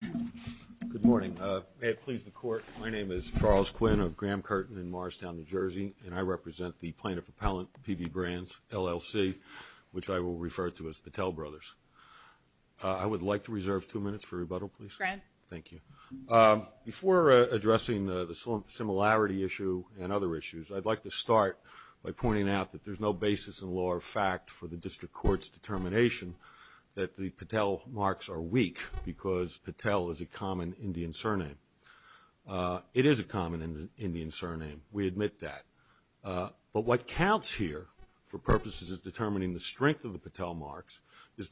Good morning. May it please the Court, my name is Charles Quinn of Graham Curtin in Morristown, New Jersey, and I represent the plaintiff-appellant PB Brands LLC, which I will refer to as Patel Brothers. I would like to reserve two minutes for rebuttal, please. Thank you. Before addressing the similarity issue and other issues, I'd like to start by pointing out that there's no basis in law or fact for the district court's determination that the Patel is a common Indian surname. It is a common Indian surname, we admit that, but what counts here for purposes of determining the strength of the Patel marks is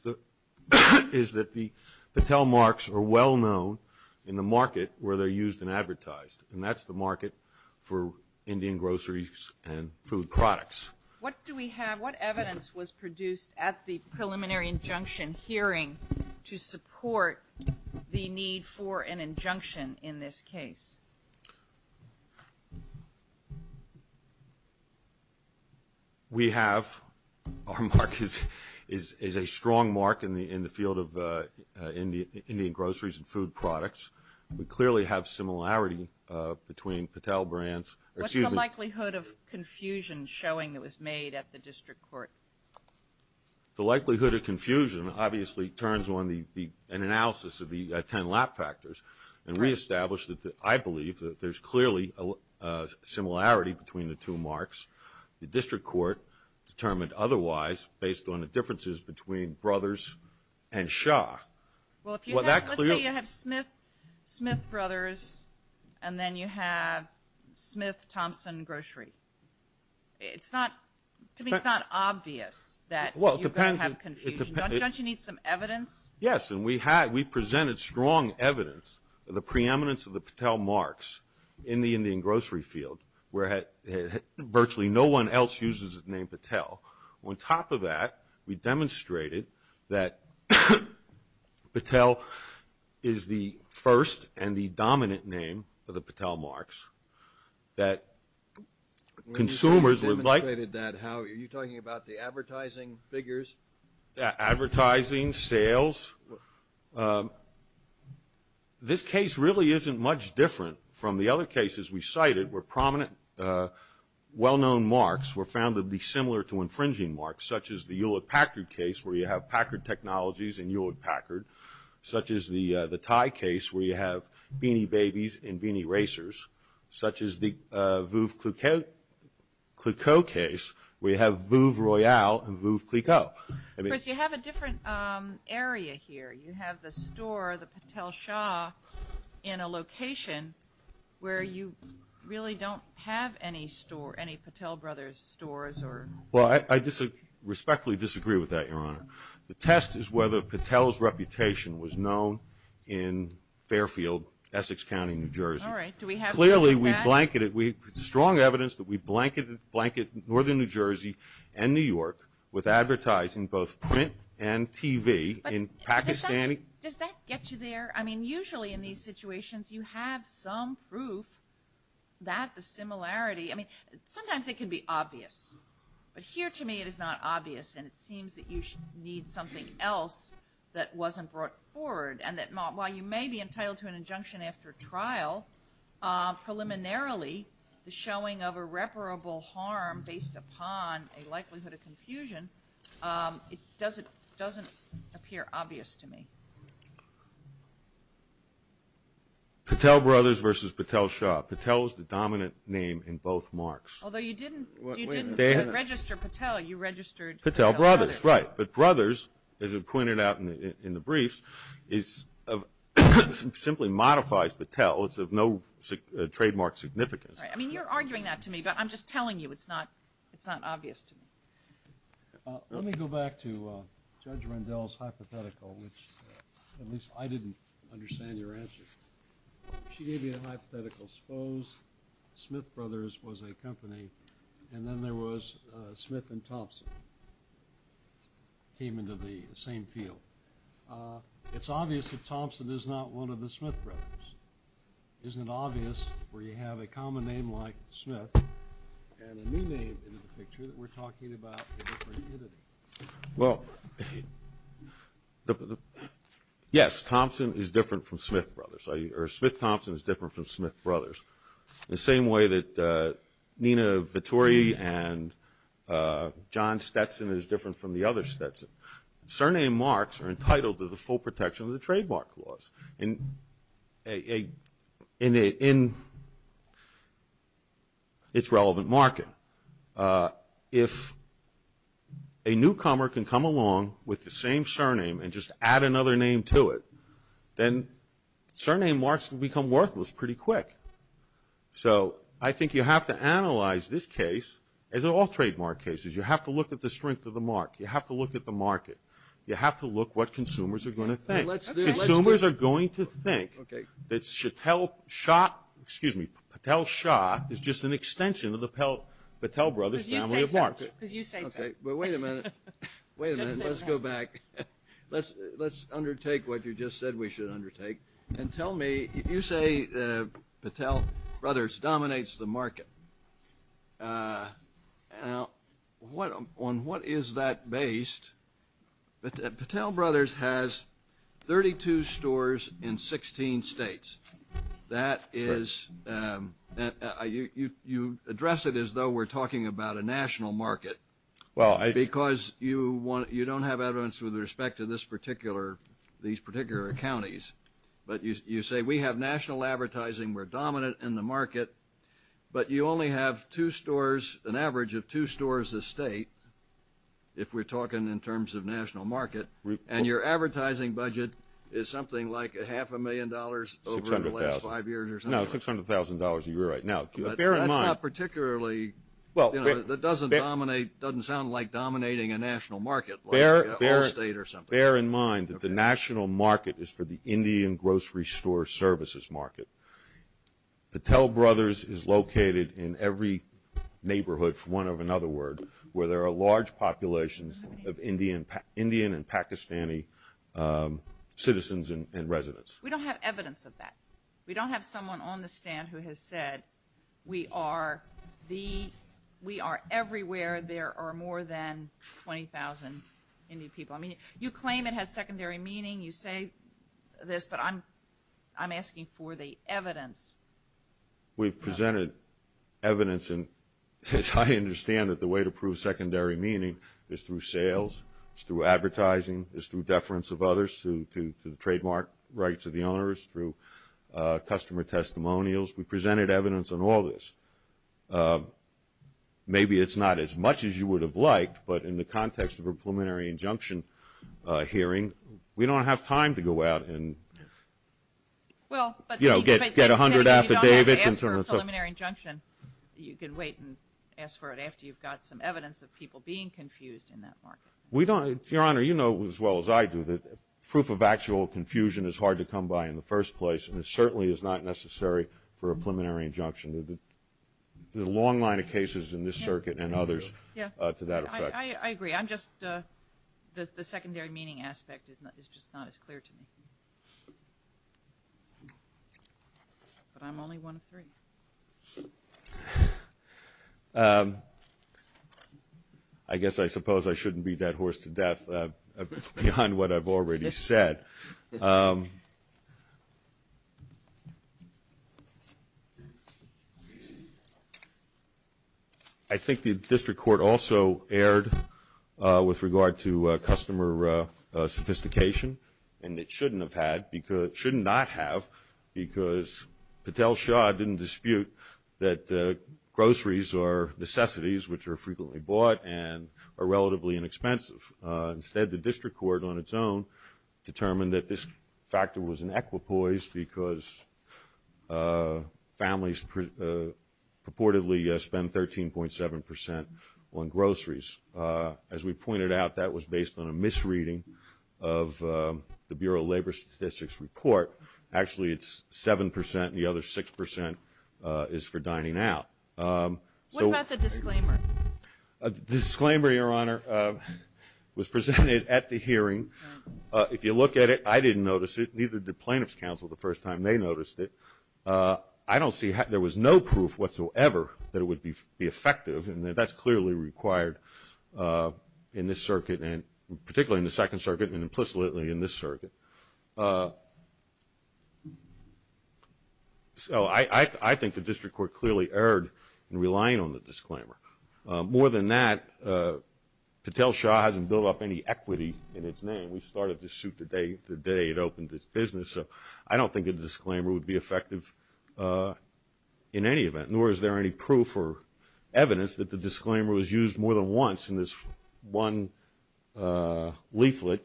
that the Patel marks are well known in the market where they're used and advertised, and that's the market for Indian groceries and food products. What do we have, what evidence was produced at the preliminary injunction hearing to support the need for an injunction in this case? We have, our mark is a strong mark in the field of Indian groceries and food products. We clearly have similarity between Patel brands. What's the likelihood of confusion showing that was made at the district court? The likelihood of confusion obviously turns on an analysis of the ten lap factors, and we established that I believe that there's clearly a similarity between the two marks. The district court determined otherwise based on the differences between Brothers and Shah. Well, let's say you have Smith Brothers, and then you have Smith Thompson Grocery. It's not, to me, it's not obvious that you're going to have confusion. Don't you need some evidence? Yes, and we had, we presented strong evidence of the preeminence of the Patel marks in the Indian grocery field where virtually no one else uses the name Patel. On top of that, we demonstrated that Patel is the first and the dominant name of the Patel marks that consumers would like. You demonstrated that. Are you talking about the advertising figures? Advertising, sales. This case really isn't much different from the other cases we cited where prominent, well-known marks were found to be similar to infringing marks, such as the Hewlett-Packard case where you have Packard Technologies and Hewlett-Packard, such as the the tie case where you have Beanie Babies and Beanie Co. case where you have Vouv Royale and Vouv Clicquot. Chris, you have a different area here. You have the store, the Patel Shah, in a location where you really don't have any store, any Patel Brothers stores or... Well, I respectfully disagree with that, Your Honor. The test is whether Patel's reputation was known in Fairfield, Essex County, New Jersey. All right, do we have proof of that? Clearly, we blanketed, we had strong evidence that we blanketed northern New Jersey and New York with advertising, both print and TV, in Pakistani... Does that get you there? I mean, usually in these situations you have some proof that the similarity... I mean, sometimes it can be obvious, but here to me it is not obvious and it seems that you should need something else that wasn't brought forward and that while you may be entitled to an injunction after trial, preliminarily the showing of irreparable harm based upon a likelihood of confusion, it doesn't appear obvious to me. Patel Brothers versus Patel Shah. Patel is the dominant name in both marks. Although you didn't register Patel, you registered... Patel Brothers, right. But Brothers, as it but tell, it's of no trademark significance. I mean, you're arguing that to me, but I'm just telling you it's not it's not obvious to me. Let me go back to Judge Rendell's hypothetical, which at least I didn't understand your answer. She gave you a hypothetical. Suppose Smith Brothers was a company and then there was Smith and Thompson came into the same field. It's obvious that Thompson is not one of the Smith Brothers. Isn't it obvious where you have a common name like Smith and a new name in the picture that we're talking about a different entity? Well, yes, Thompson is different from Smith Brothers, or Smith-Thompson is different from Smith Brothers. The same way that Nina Vittori and John Stetson is different from the other Stetson. Surname marks are entitled to the full protection of the trademark clause in its relevant market. If a newcomer can come along with the same surname and just add another name to it, then surname marks will become worthless pretty quick. So, I think you have to analyze this case, as in all trademark cases, you have to look at the strength of the mark. You have to look at the market. You have to look what consumers are going to think. Consumers are going to think that Patel-Shaw is just an extension of the Patel Brothers family of marks. Wait a minute. Wait a minute. Let's go back. Let's undertake what you just said we should undertake and tell me, you say Patel Brothers dominates the market. Now, on what is that based? Patel Brothers has 32 stores in 16 states. That is, you address it as though we're talking about a national market because you don't have evidence with respect to these particular counties. But you say we have national advertising, we're dominant in the market, but you only have two stores, an average of two stores a state, if we're talking in terms of national market, and your advertising budget is something like a half a million dollars over the last five years or something like that. 600,000. No, $600,000 a year right now. Bear in mind. That's not particularly, you know, that doesn't dominate, doesn't sound like dominating a national market like Allstate or something. Bear in mind that the national market is for the Indian grocery store services market. Patel Brothers is located in every neighborhood, for want of another word, where there are large populations of Indian and Pakistani citizens and residents. We don't have evidence of that. We don't have someone on the stand who has said we are the, we are everywhere, there are more than 20,000 Indian people. I mean, you claim it has secondary meaning, you say this, but I'm asking for the evidence. We've presented evidence, and as I understand it, the way to prove secondary meaning is through sales, is through advertising, is through deference of others to the trademark rights of the owners, through customer testimonials. We presented evidence on all this. Maybe it's not as much as you would have liked, but in the context of a preliminary injunction hearing, we don't have time to go out and, you know, get a hundred after David's. If you don't have to ask for a preliminary injunction, you can wait and ask for it after you've got some evidence of people being confused in that market. Your Honor, you know as well as I do that proof of actual confusion is hard to come by in the first place, and it certainly is not necessary for a preliminary injunction. There's a long line of cases in this circuit and others to that effect. I agree. I'm just the secondary meaning aspect is just not as clear to me. But I'm only one of three. I guess I suppose I shouldn't be that horse to death beyond what I've already said. I think the district court also erred with regard to customer sophistication, and it shouldn't not have because Patel-Shaw didn't dispute that groceries are necessities, which are frequently bought and are relatively inexpensive. Instead, the district court on its own determined that this factor was an equipoise because families purportedly spend 13.7 percent on groceries. As we pointed out, that was based on a misreading of the Bureau of Labor Statistics report. Actually, it's 7 percent, and the other 6 percent is for dining out. What about the disclaimer? The disclaimer, Your Honor, was presented at the hearing. If you look at it, I didn't notice it. Neither did plaintiff's counsel the first time they noticed it. I don't see how there was no proof whatsoever that it would be effective, and that's clearly required in this circuit and particularly in the Second Circuit and implicitly in this circuit. So I think the district court clearly erred in relying on the disclaimer. More than that, Patel-Shaw hasn't built up any equity in its name. We started this suit the day it opened its business, so I don't think a disclaimer would be effective in any event, nor is there any proof or evidence that the disclaimer was used more than once in this one leaflet.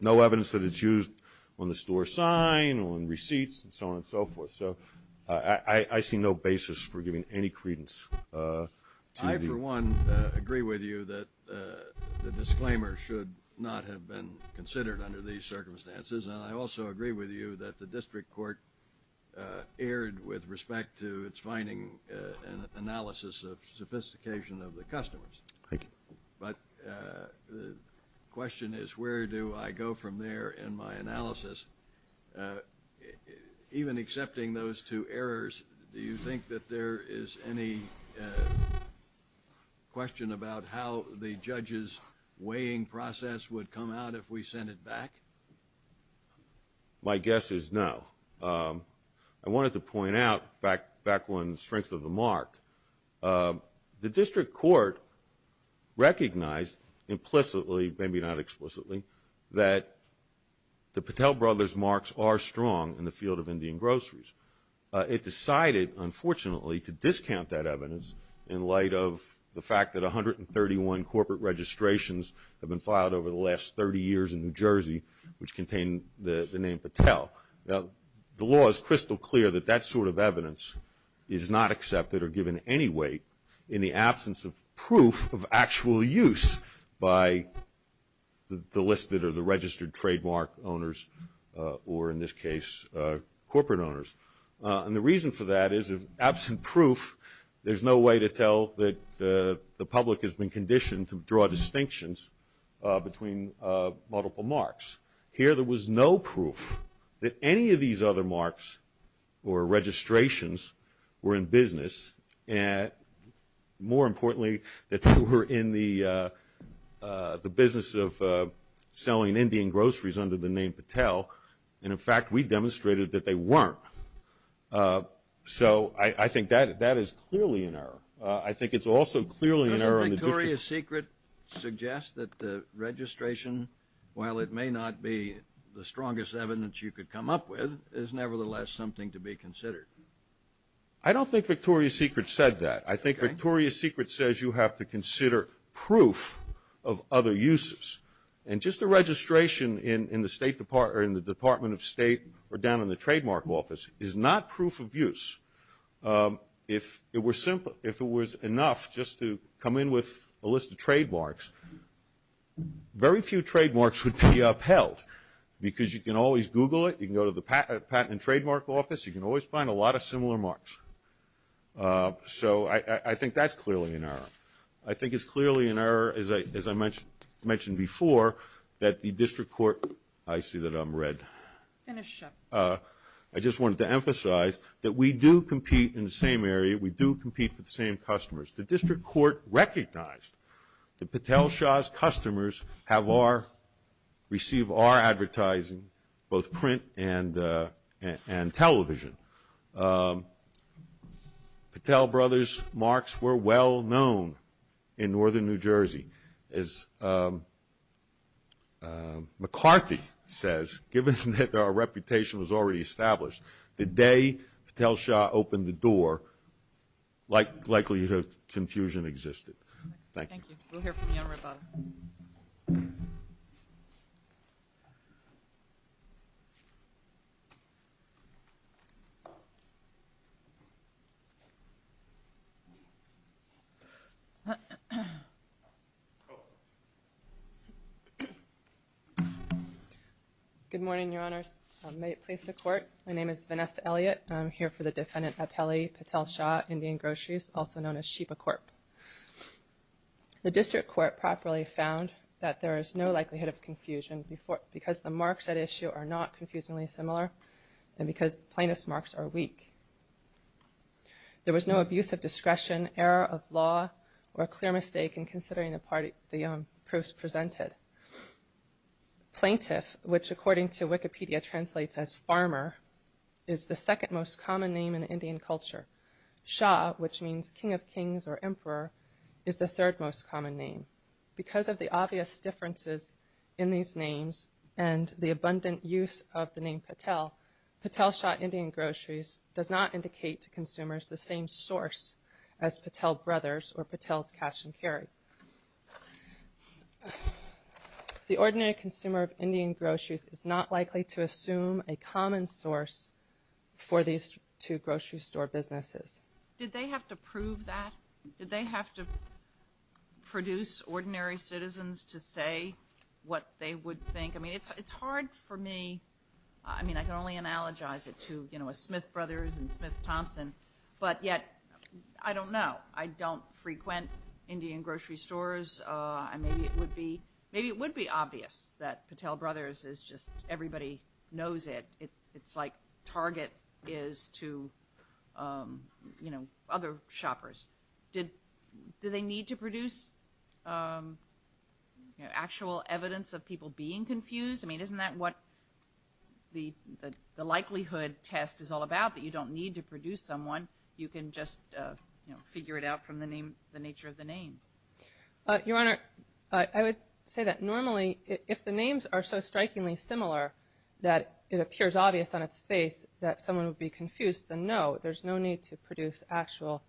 No evidence that it's used on the store sign, on receipts, and so on and so forth. So I see no basis for giving any credence. I, for one, agree with you that the disclaimer should not have been considered under these circumstances, and I also agree with you that the district court erred with respect to its finding and analysis of sophistication of the customers. Thank you. But the question is where do I go from there in my analysis? Even accepting those two errors, do you think that there is any question about how the judge's weighing process would come out if we sent it back? My guess is no. I wanted to point out, back on the strength of the mark, the district court recognized implicitly, maybe not explicitly, that the Patel Brothers' marks are strong in the field of Indian groceries. It decided, unfortunately, to discount that evidence in light of the fact that 131 corporate registrations have been filed over the last 30 years in New Jersey, which contain the name Patel. Now, the law is crystal clear that that sort of evidence is not accepted or given any weight in the absence of proof of actual use by the listed or the registered trademark owners or, in this case, corporate owners. And the reason for that is, absent proof, there's no way to tell that the public has been conditioned to draw distinctions between multiple marks. Here, there was no proof that any of these other marks or registrations were in business, and more importantly, that they were in the business of selling Indian groceries under the name Patel. And, in fact, we demonstrated that they weren't. So I think that is clearly an error. I think it's also clearly an error in the district court. Does Victoria's Secret suggest that the registration, while it may not be the strongest evidence you could come up with, is nevertheless something to be considered? I don't think Victoria's Secret said that. I think Victoria's Secret says you have to consider proof of other uses. And just a registration in the State Department or in the Department of State or down in the trademark office is not proof of use. If it was enough just to come in with a list of trademarks, very few trademarks would be upheld because you can always Google it. You can go to the patent and trademark office. You can always find a lot of similar marks. So I think that's clearly an error. I think it's clearly an error, as I mentioned before, that the district court – I see that I'm red. Finish up. I just wanted to emphasize that we do compete in the same area. We do compete for the same customers. The district court recognized that Patel Shah's customers have our – receive our advertising, both print and television. Patel brothers' marks were well known in northern New Jersey. As McCarthy says, given that our reputation was already established, the day Patel Shah opened the door, likely confusion existed. Thank you. We'll hear from you on ribbon. Good morning, Your Honors. May it please the Court, my name is Vanessa Elliott. I'm here for the defendant, Apelli Patel Shah, Indian Groceries, also known as Sheba Corp. The district court properly found that there is no likelihood of confusion because the marks at issue are not confusingly similar and because plaintiff's marks are weak. There was no abuse of discretion, error of law, or clear mistake in considering the proofs presented. Plaintiff, which according to Wikipedia translates as farmer, is the second most common name in Indian culture. Shah, which means king of kings or emperor, is the third most common name. Because of the obvious differences in these names and the abundant use of the name Patel, Patel Shah Indian Groceries does not indicate to consumers the same source as Patel Brothers or Patel's Cash and Carry. The ordinary consumer of Indian Groceries is not likely to assume a common source for these two grocery store businesses. Did they have to prove that? Did they have to produce ordinary citizens to say what they would think? I mean, it's hard for me. I mean, I can only analogize it to, you know, a Smith Brothers and Smith Thompson. But yet, I don't know. I don't frequent Indian grocery stores. Maybe it would be obvious that Patel Brothers is just everybody knows it. It's like Target is to, you know, other shoppers. Do they need to produce actual evidence of people being confused? I mean, isn't that what the likelihood test is all about, that you don't need to produce someone, you can just figure it out from the nature of the name? Your Honor, I would say that normally if the names are so strikingly similar that it appears obvious on its face that someone would be confused, then no, there's no need to produce actual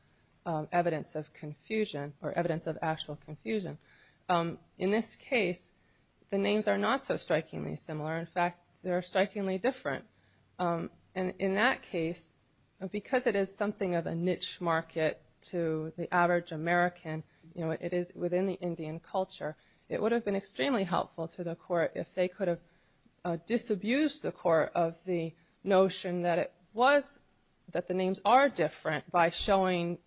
evidence of confusion or evidence of actual confusion. In this case, the names are not so strikingly similar. In fact, they're strikingly different. And in that case, because it is something of a niche market to the average American, you know, it is within the Indian culture, it would have been extremely helpful to the court if they could have disabused the court of the notion that it was that the names are different by showing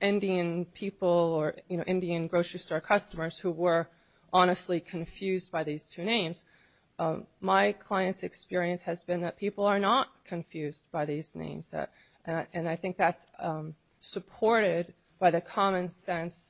Indian people or, you know, Indian grocery store customers who were honestly confused by these two names. My client's experience has been that people are not confused by these names. And I think that's supported by the common sense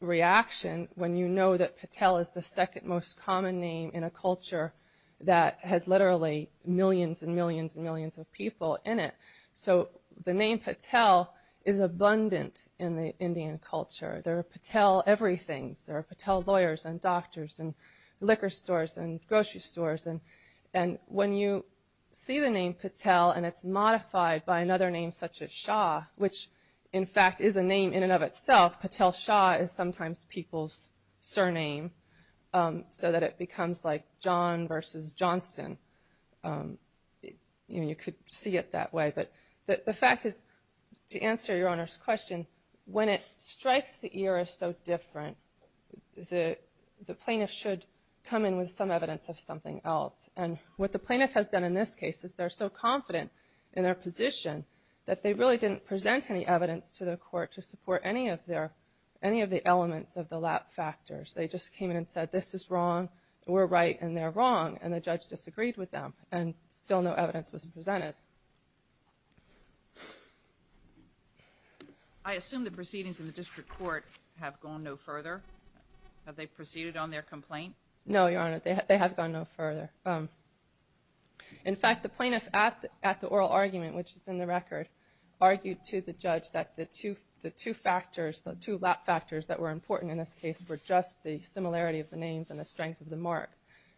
reaction when you know that Patel is the second most common name in a culture that has literally millions and millions and millions of people in it. So the name Patel is abundant in the Indian culture. There are Patel everythings. There are Patel lawyers and doctors and liquor stores and grocery stores. And when you see the name Patel and it's modified by another name such as Shah, which in fact is a name in and of itself, Patel Shah is sometimes people's surname, so that it becomes like John versus Johnston. You know, you could see it that way. But the fact is, to answer your Honor's question, when it strikes the ear as so different, the plaintiff should come in with some evidence of something else. And what the plaintiff has done in this case is they're so confident in their position that they really didn't present any evidence to the court to support any of the elements of the lap factors. They just came in and said this is wrong, we're right, and they're wrong, and the judge disagreed with them, and still no evidence was presented. I assume the proceedings in the district court have gone no further? Have they proceeded on their complaint? No, Your Honor, they have gone no further. In fact, the plaintiff at the oral argument, which is in the record, argued to the judge that the two factors, the two lap factors that were important in this case were just the similarity of the names and the strength of the mark.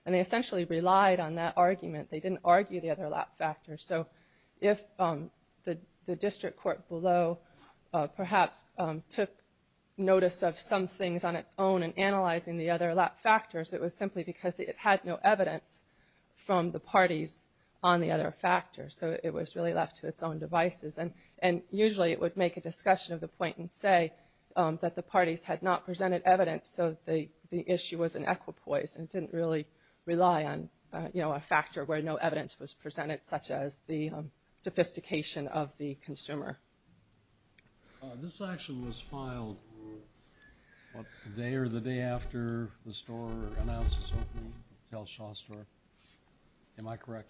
And they essentially relied on that argument. They didn't argue the other lap factors. So if the district court below perhaps took notice of some things on its own in analyzing the other lap factors, it was simply because it had no evidence from the parties on the other factors. So it was really left to its own devices. And usually it would make a discussion of the point and say that the parties had not presented evidence, so the issue was an equipoise and didn't really rely on a factor where no evidence was presented such as the sophistication of the consumer. This action was filed the day or the day after the store announced its opening, the Tell Shaw store, am I correct?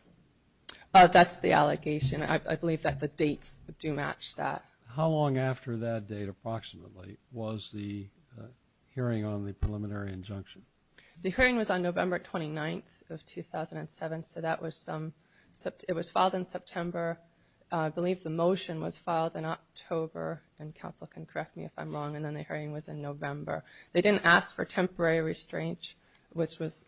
That's the allegation. I believe that the dates do match that. How long after that date, approximately, was the hearing on the preliminary injunction? The hearing was on November 29th of 2007, so it was filed in September. I believe the motion was filed in October, and counsel can correct me if I'm wrong, and then the hearing was in November. They didn't ask for temporary restraint, which was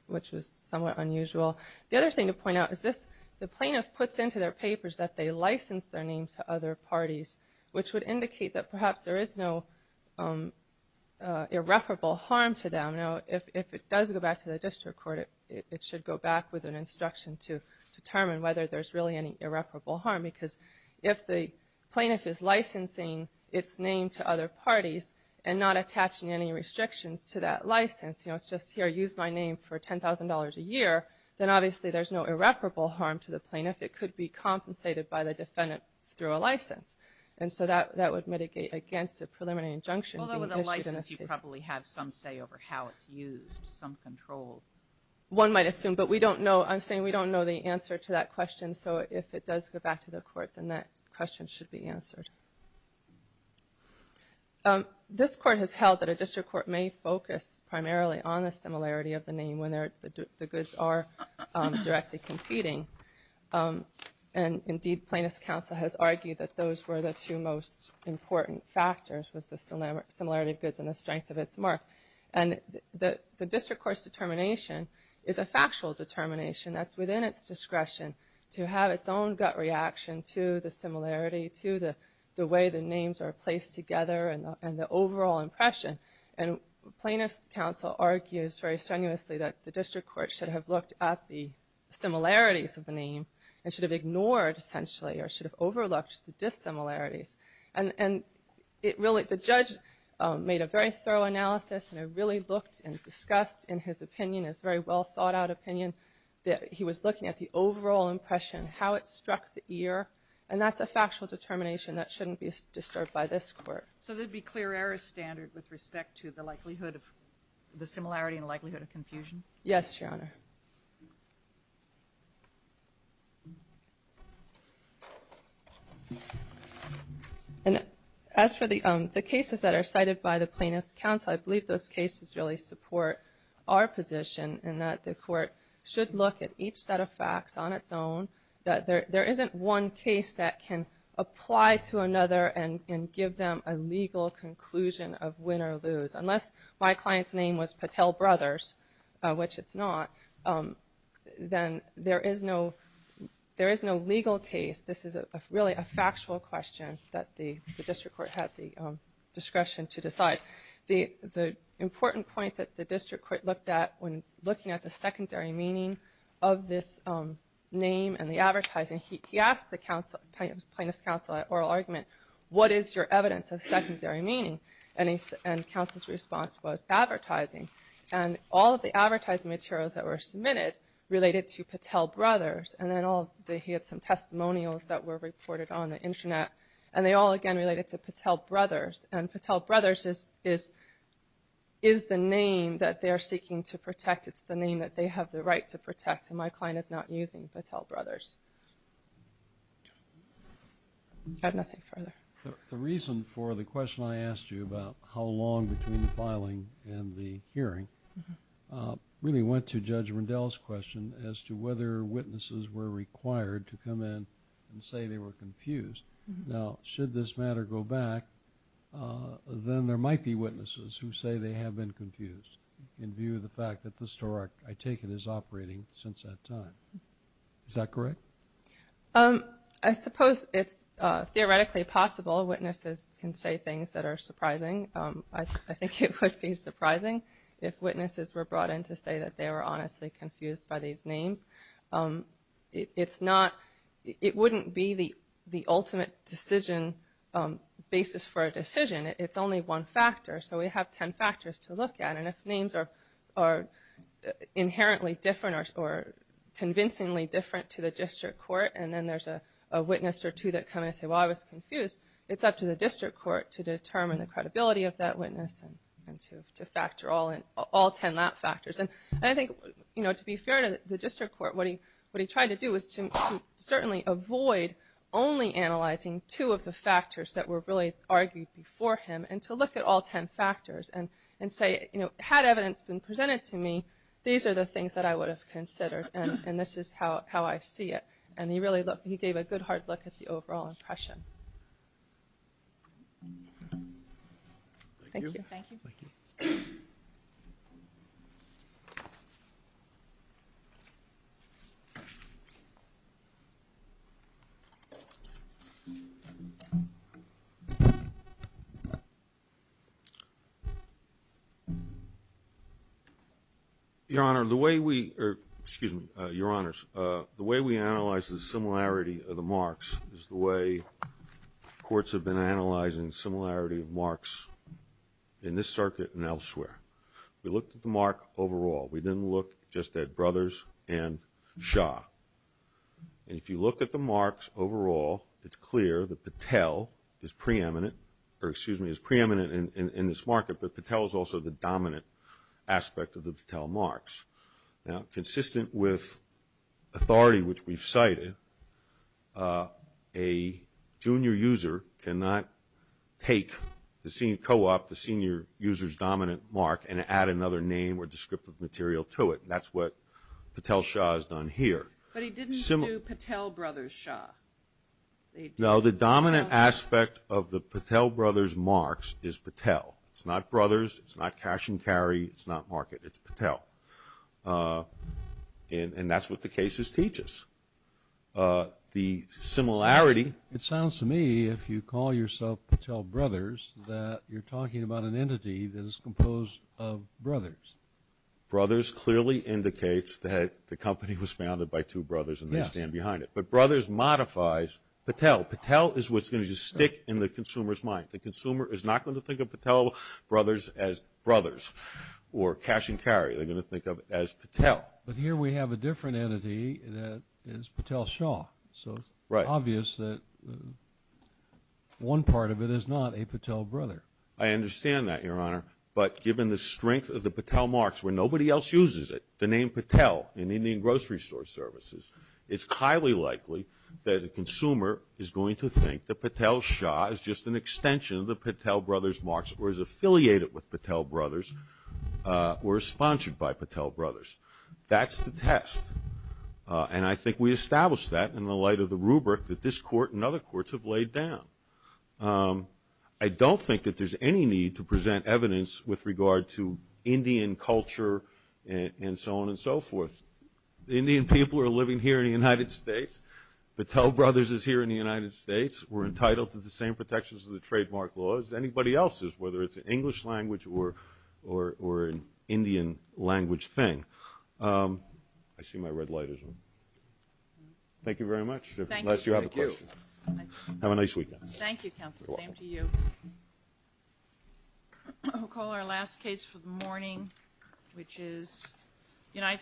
somewhat unusual. The other thing to point out is the plaintiff puts into their papers that they licensed their name to other parties, which would indicate that perhaps there is no irreparable harm to them. Now, if it does go back to the district court, it should go back with an instruction to determine whether there's really any irreparable harm because if the plaintiff is licensing its name to other parties and not attaching any restrictions to that license, you know, it's just here, use my name for $10,000 a year, then obviously there's no irreparable harm to the plaintiff. It could be compensated by the defendant through a license, and so that would mitigate against a preliminary injunction being issued. Although with a license, you probably have some say over how it's used, some control. One might assume, but we don't know. I'm saying we don't know the answer to that question, so if it does go back to the court, then that question should be answered. This court has held that a district court may focus primarily on the similarity of the name when the goods are directly competing, and indeed plaintiff's counsel has argued that those were the two most important factors was the similarity of goods and the strength of its mark. And the district court's determination is a factual determination that's within its discretion to have its own gut reaction to the similarity, to the way the names are placed together and the overall impression. And plaintiff's counsel argues very strenuously that the district court should have looked at the similarities of the name and should have ignored, essentially, or should have overlooked the dissimilarities. And the judge made a very thorough analysis and really looked and discussed in his opinion, his very well-thought-out opinion, that he was looking at the overall impression, how it struck the ear, and that's a factual determination that shouldn't be disturbed by this court. So there'd be clear error standard with respect to the likelihood of the similarity and the likelihood of confusion? Yes, Your Honor. And as for the cases that are cited by the plaintiff's counsel, I believe those cases really support our position in that the court should look at each set of facts on its own, that there isn't one case that can apply to another and give them a legal conclusion of win or lose. Unless my client's name was Patel Brothers, which it's not, then there is no legal case. This is really a factual question that the district court had the discretion to decide. The important point that the district court looked at when looking at the secondary meaning of this name and the advertising, he asked the plaintiff's counsel at oral argument, what is your evidence of secondary meaning? And counsel's response was advertising. And all of the advertising materials that were submitted related to Patel Brothers, and then he had some testimonials that were reported on the internet, and they all again related to Patel Brothers. And Patel Brothers is the name that they are seeking to protect. It's the name that they have the right to protect, and my client is not using Patel Brothers. I have nothing further. The reason for the question I asked you about how long between the filing and the hearing really went to Judge Rendell's question as to whether witnesses were required to come in and say they were confused. Now, should this matter go back, then there might be witnesses who say they have been confused in view of the fact that the store, I take it, is operating since that time. Is that correct? I suppose it's theoretically possible witnesses can say things that are surprising. I think it would be surprising if witnesses were brought in to say that they were honestly confused by these names. It's not... It wouldn't be the ultimate decision... basis for a decision. It's only one factor, so we have ten factors to look at. And if names are inherently different or convincingly different to the district court, and then there's a witness or two that come in and say, well, I was confused, it's up to the district court to determine the credibility of that witness and to factor all ten that factors. And I think, you know, to be fair to the district court, what he tried to do was to certainly avoid only analyzing two of the factors that were really argued before him and to look at all ten factors and say, you know, had evidence been presented to me, these are the things that I would have considered and this is how I see it. And he gave a good hard look at the overall impression. Thank you. Thank you. Your Honor, the way we... Excuse me, Your Honors. The way we analyze the similarity of the marks is the way courts have been analyzing the similarity of marks in this circuit and elsewhere. We looked at the mark overall. We didn't look just at Brothers and Shaw. And if you look at the marks overall, it's clear that Patel is preeminent, or excuse me, is preeminent in this market, but Patel is also the dominant aspect of the Patel marks. Now, consistent with authority which we've cited, a junior user cannot take the senior co-op, the senior user's dominant mark, and add another name or descriptive material to it. That's what Patel-Shaw has done here. But he didn't do Patel-Brothers-Shaw. No, the dominant aspect of the Patel-Brothers marks is Patel. It's not Brothers, it's not Cash and Carry, it's not Market, it's Patel. And that's what the cases teach us. The similarity... It sounds to me, if you call yourself Patel-Brothers, that you're talking about an entity that is composed of Brothers. Brothers clearly indicates that the company was founded by two brothers and they stand behind it. But Brothers modifies Patel. Patel is what's going to stick in the consumer's mind. The consumer is not going to think of Patel-Brothers as Brothers, or Cash and Carry, they're going to think of it as Patel. But here we have a different entity that is Patel-Shaw. So it's obvious that one part of it is not a Patel-Brother. I understand that, Your Honor. But given the strength of the Patel marks, where nobody else uses it, the name Patel in Indian grocery store services, it's highly likely that the consumer is going to think that Patel-Shaw is just an extension of the Patel-Brothers marks or is affiliated with Patel-Brothers or is sponsored by Patel-Brothers. That's the test. And I think we established that in the light of the rubric that this court and other courts have laid down. I don't think that there's any need to present evidence with regard to Indian culture and so on and so forth. The Indian people are living here in the United States. Patel-Brothers is here in the United States. We're entitled to the same protections of the trademark laws as anybody else is, whether it's an English language or an Indian language thing. I see my red light is on. Thank you very much. Unless you have a question. Thank you. Have a nice weekend. Thank you, counsel. Same to you. We'll call our last case for the morning, which is United States.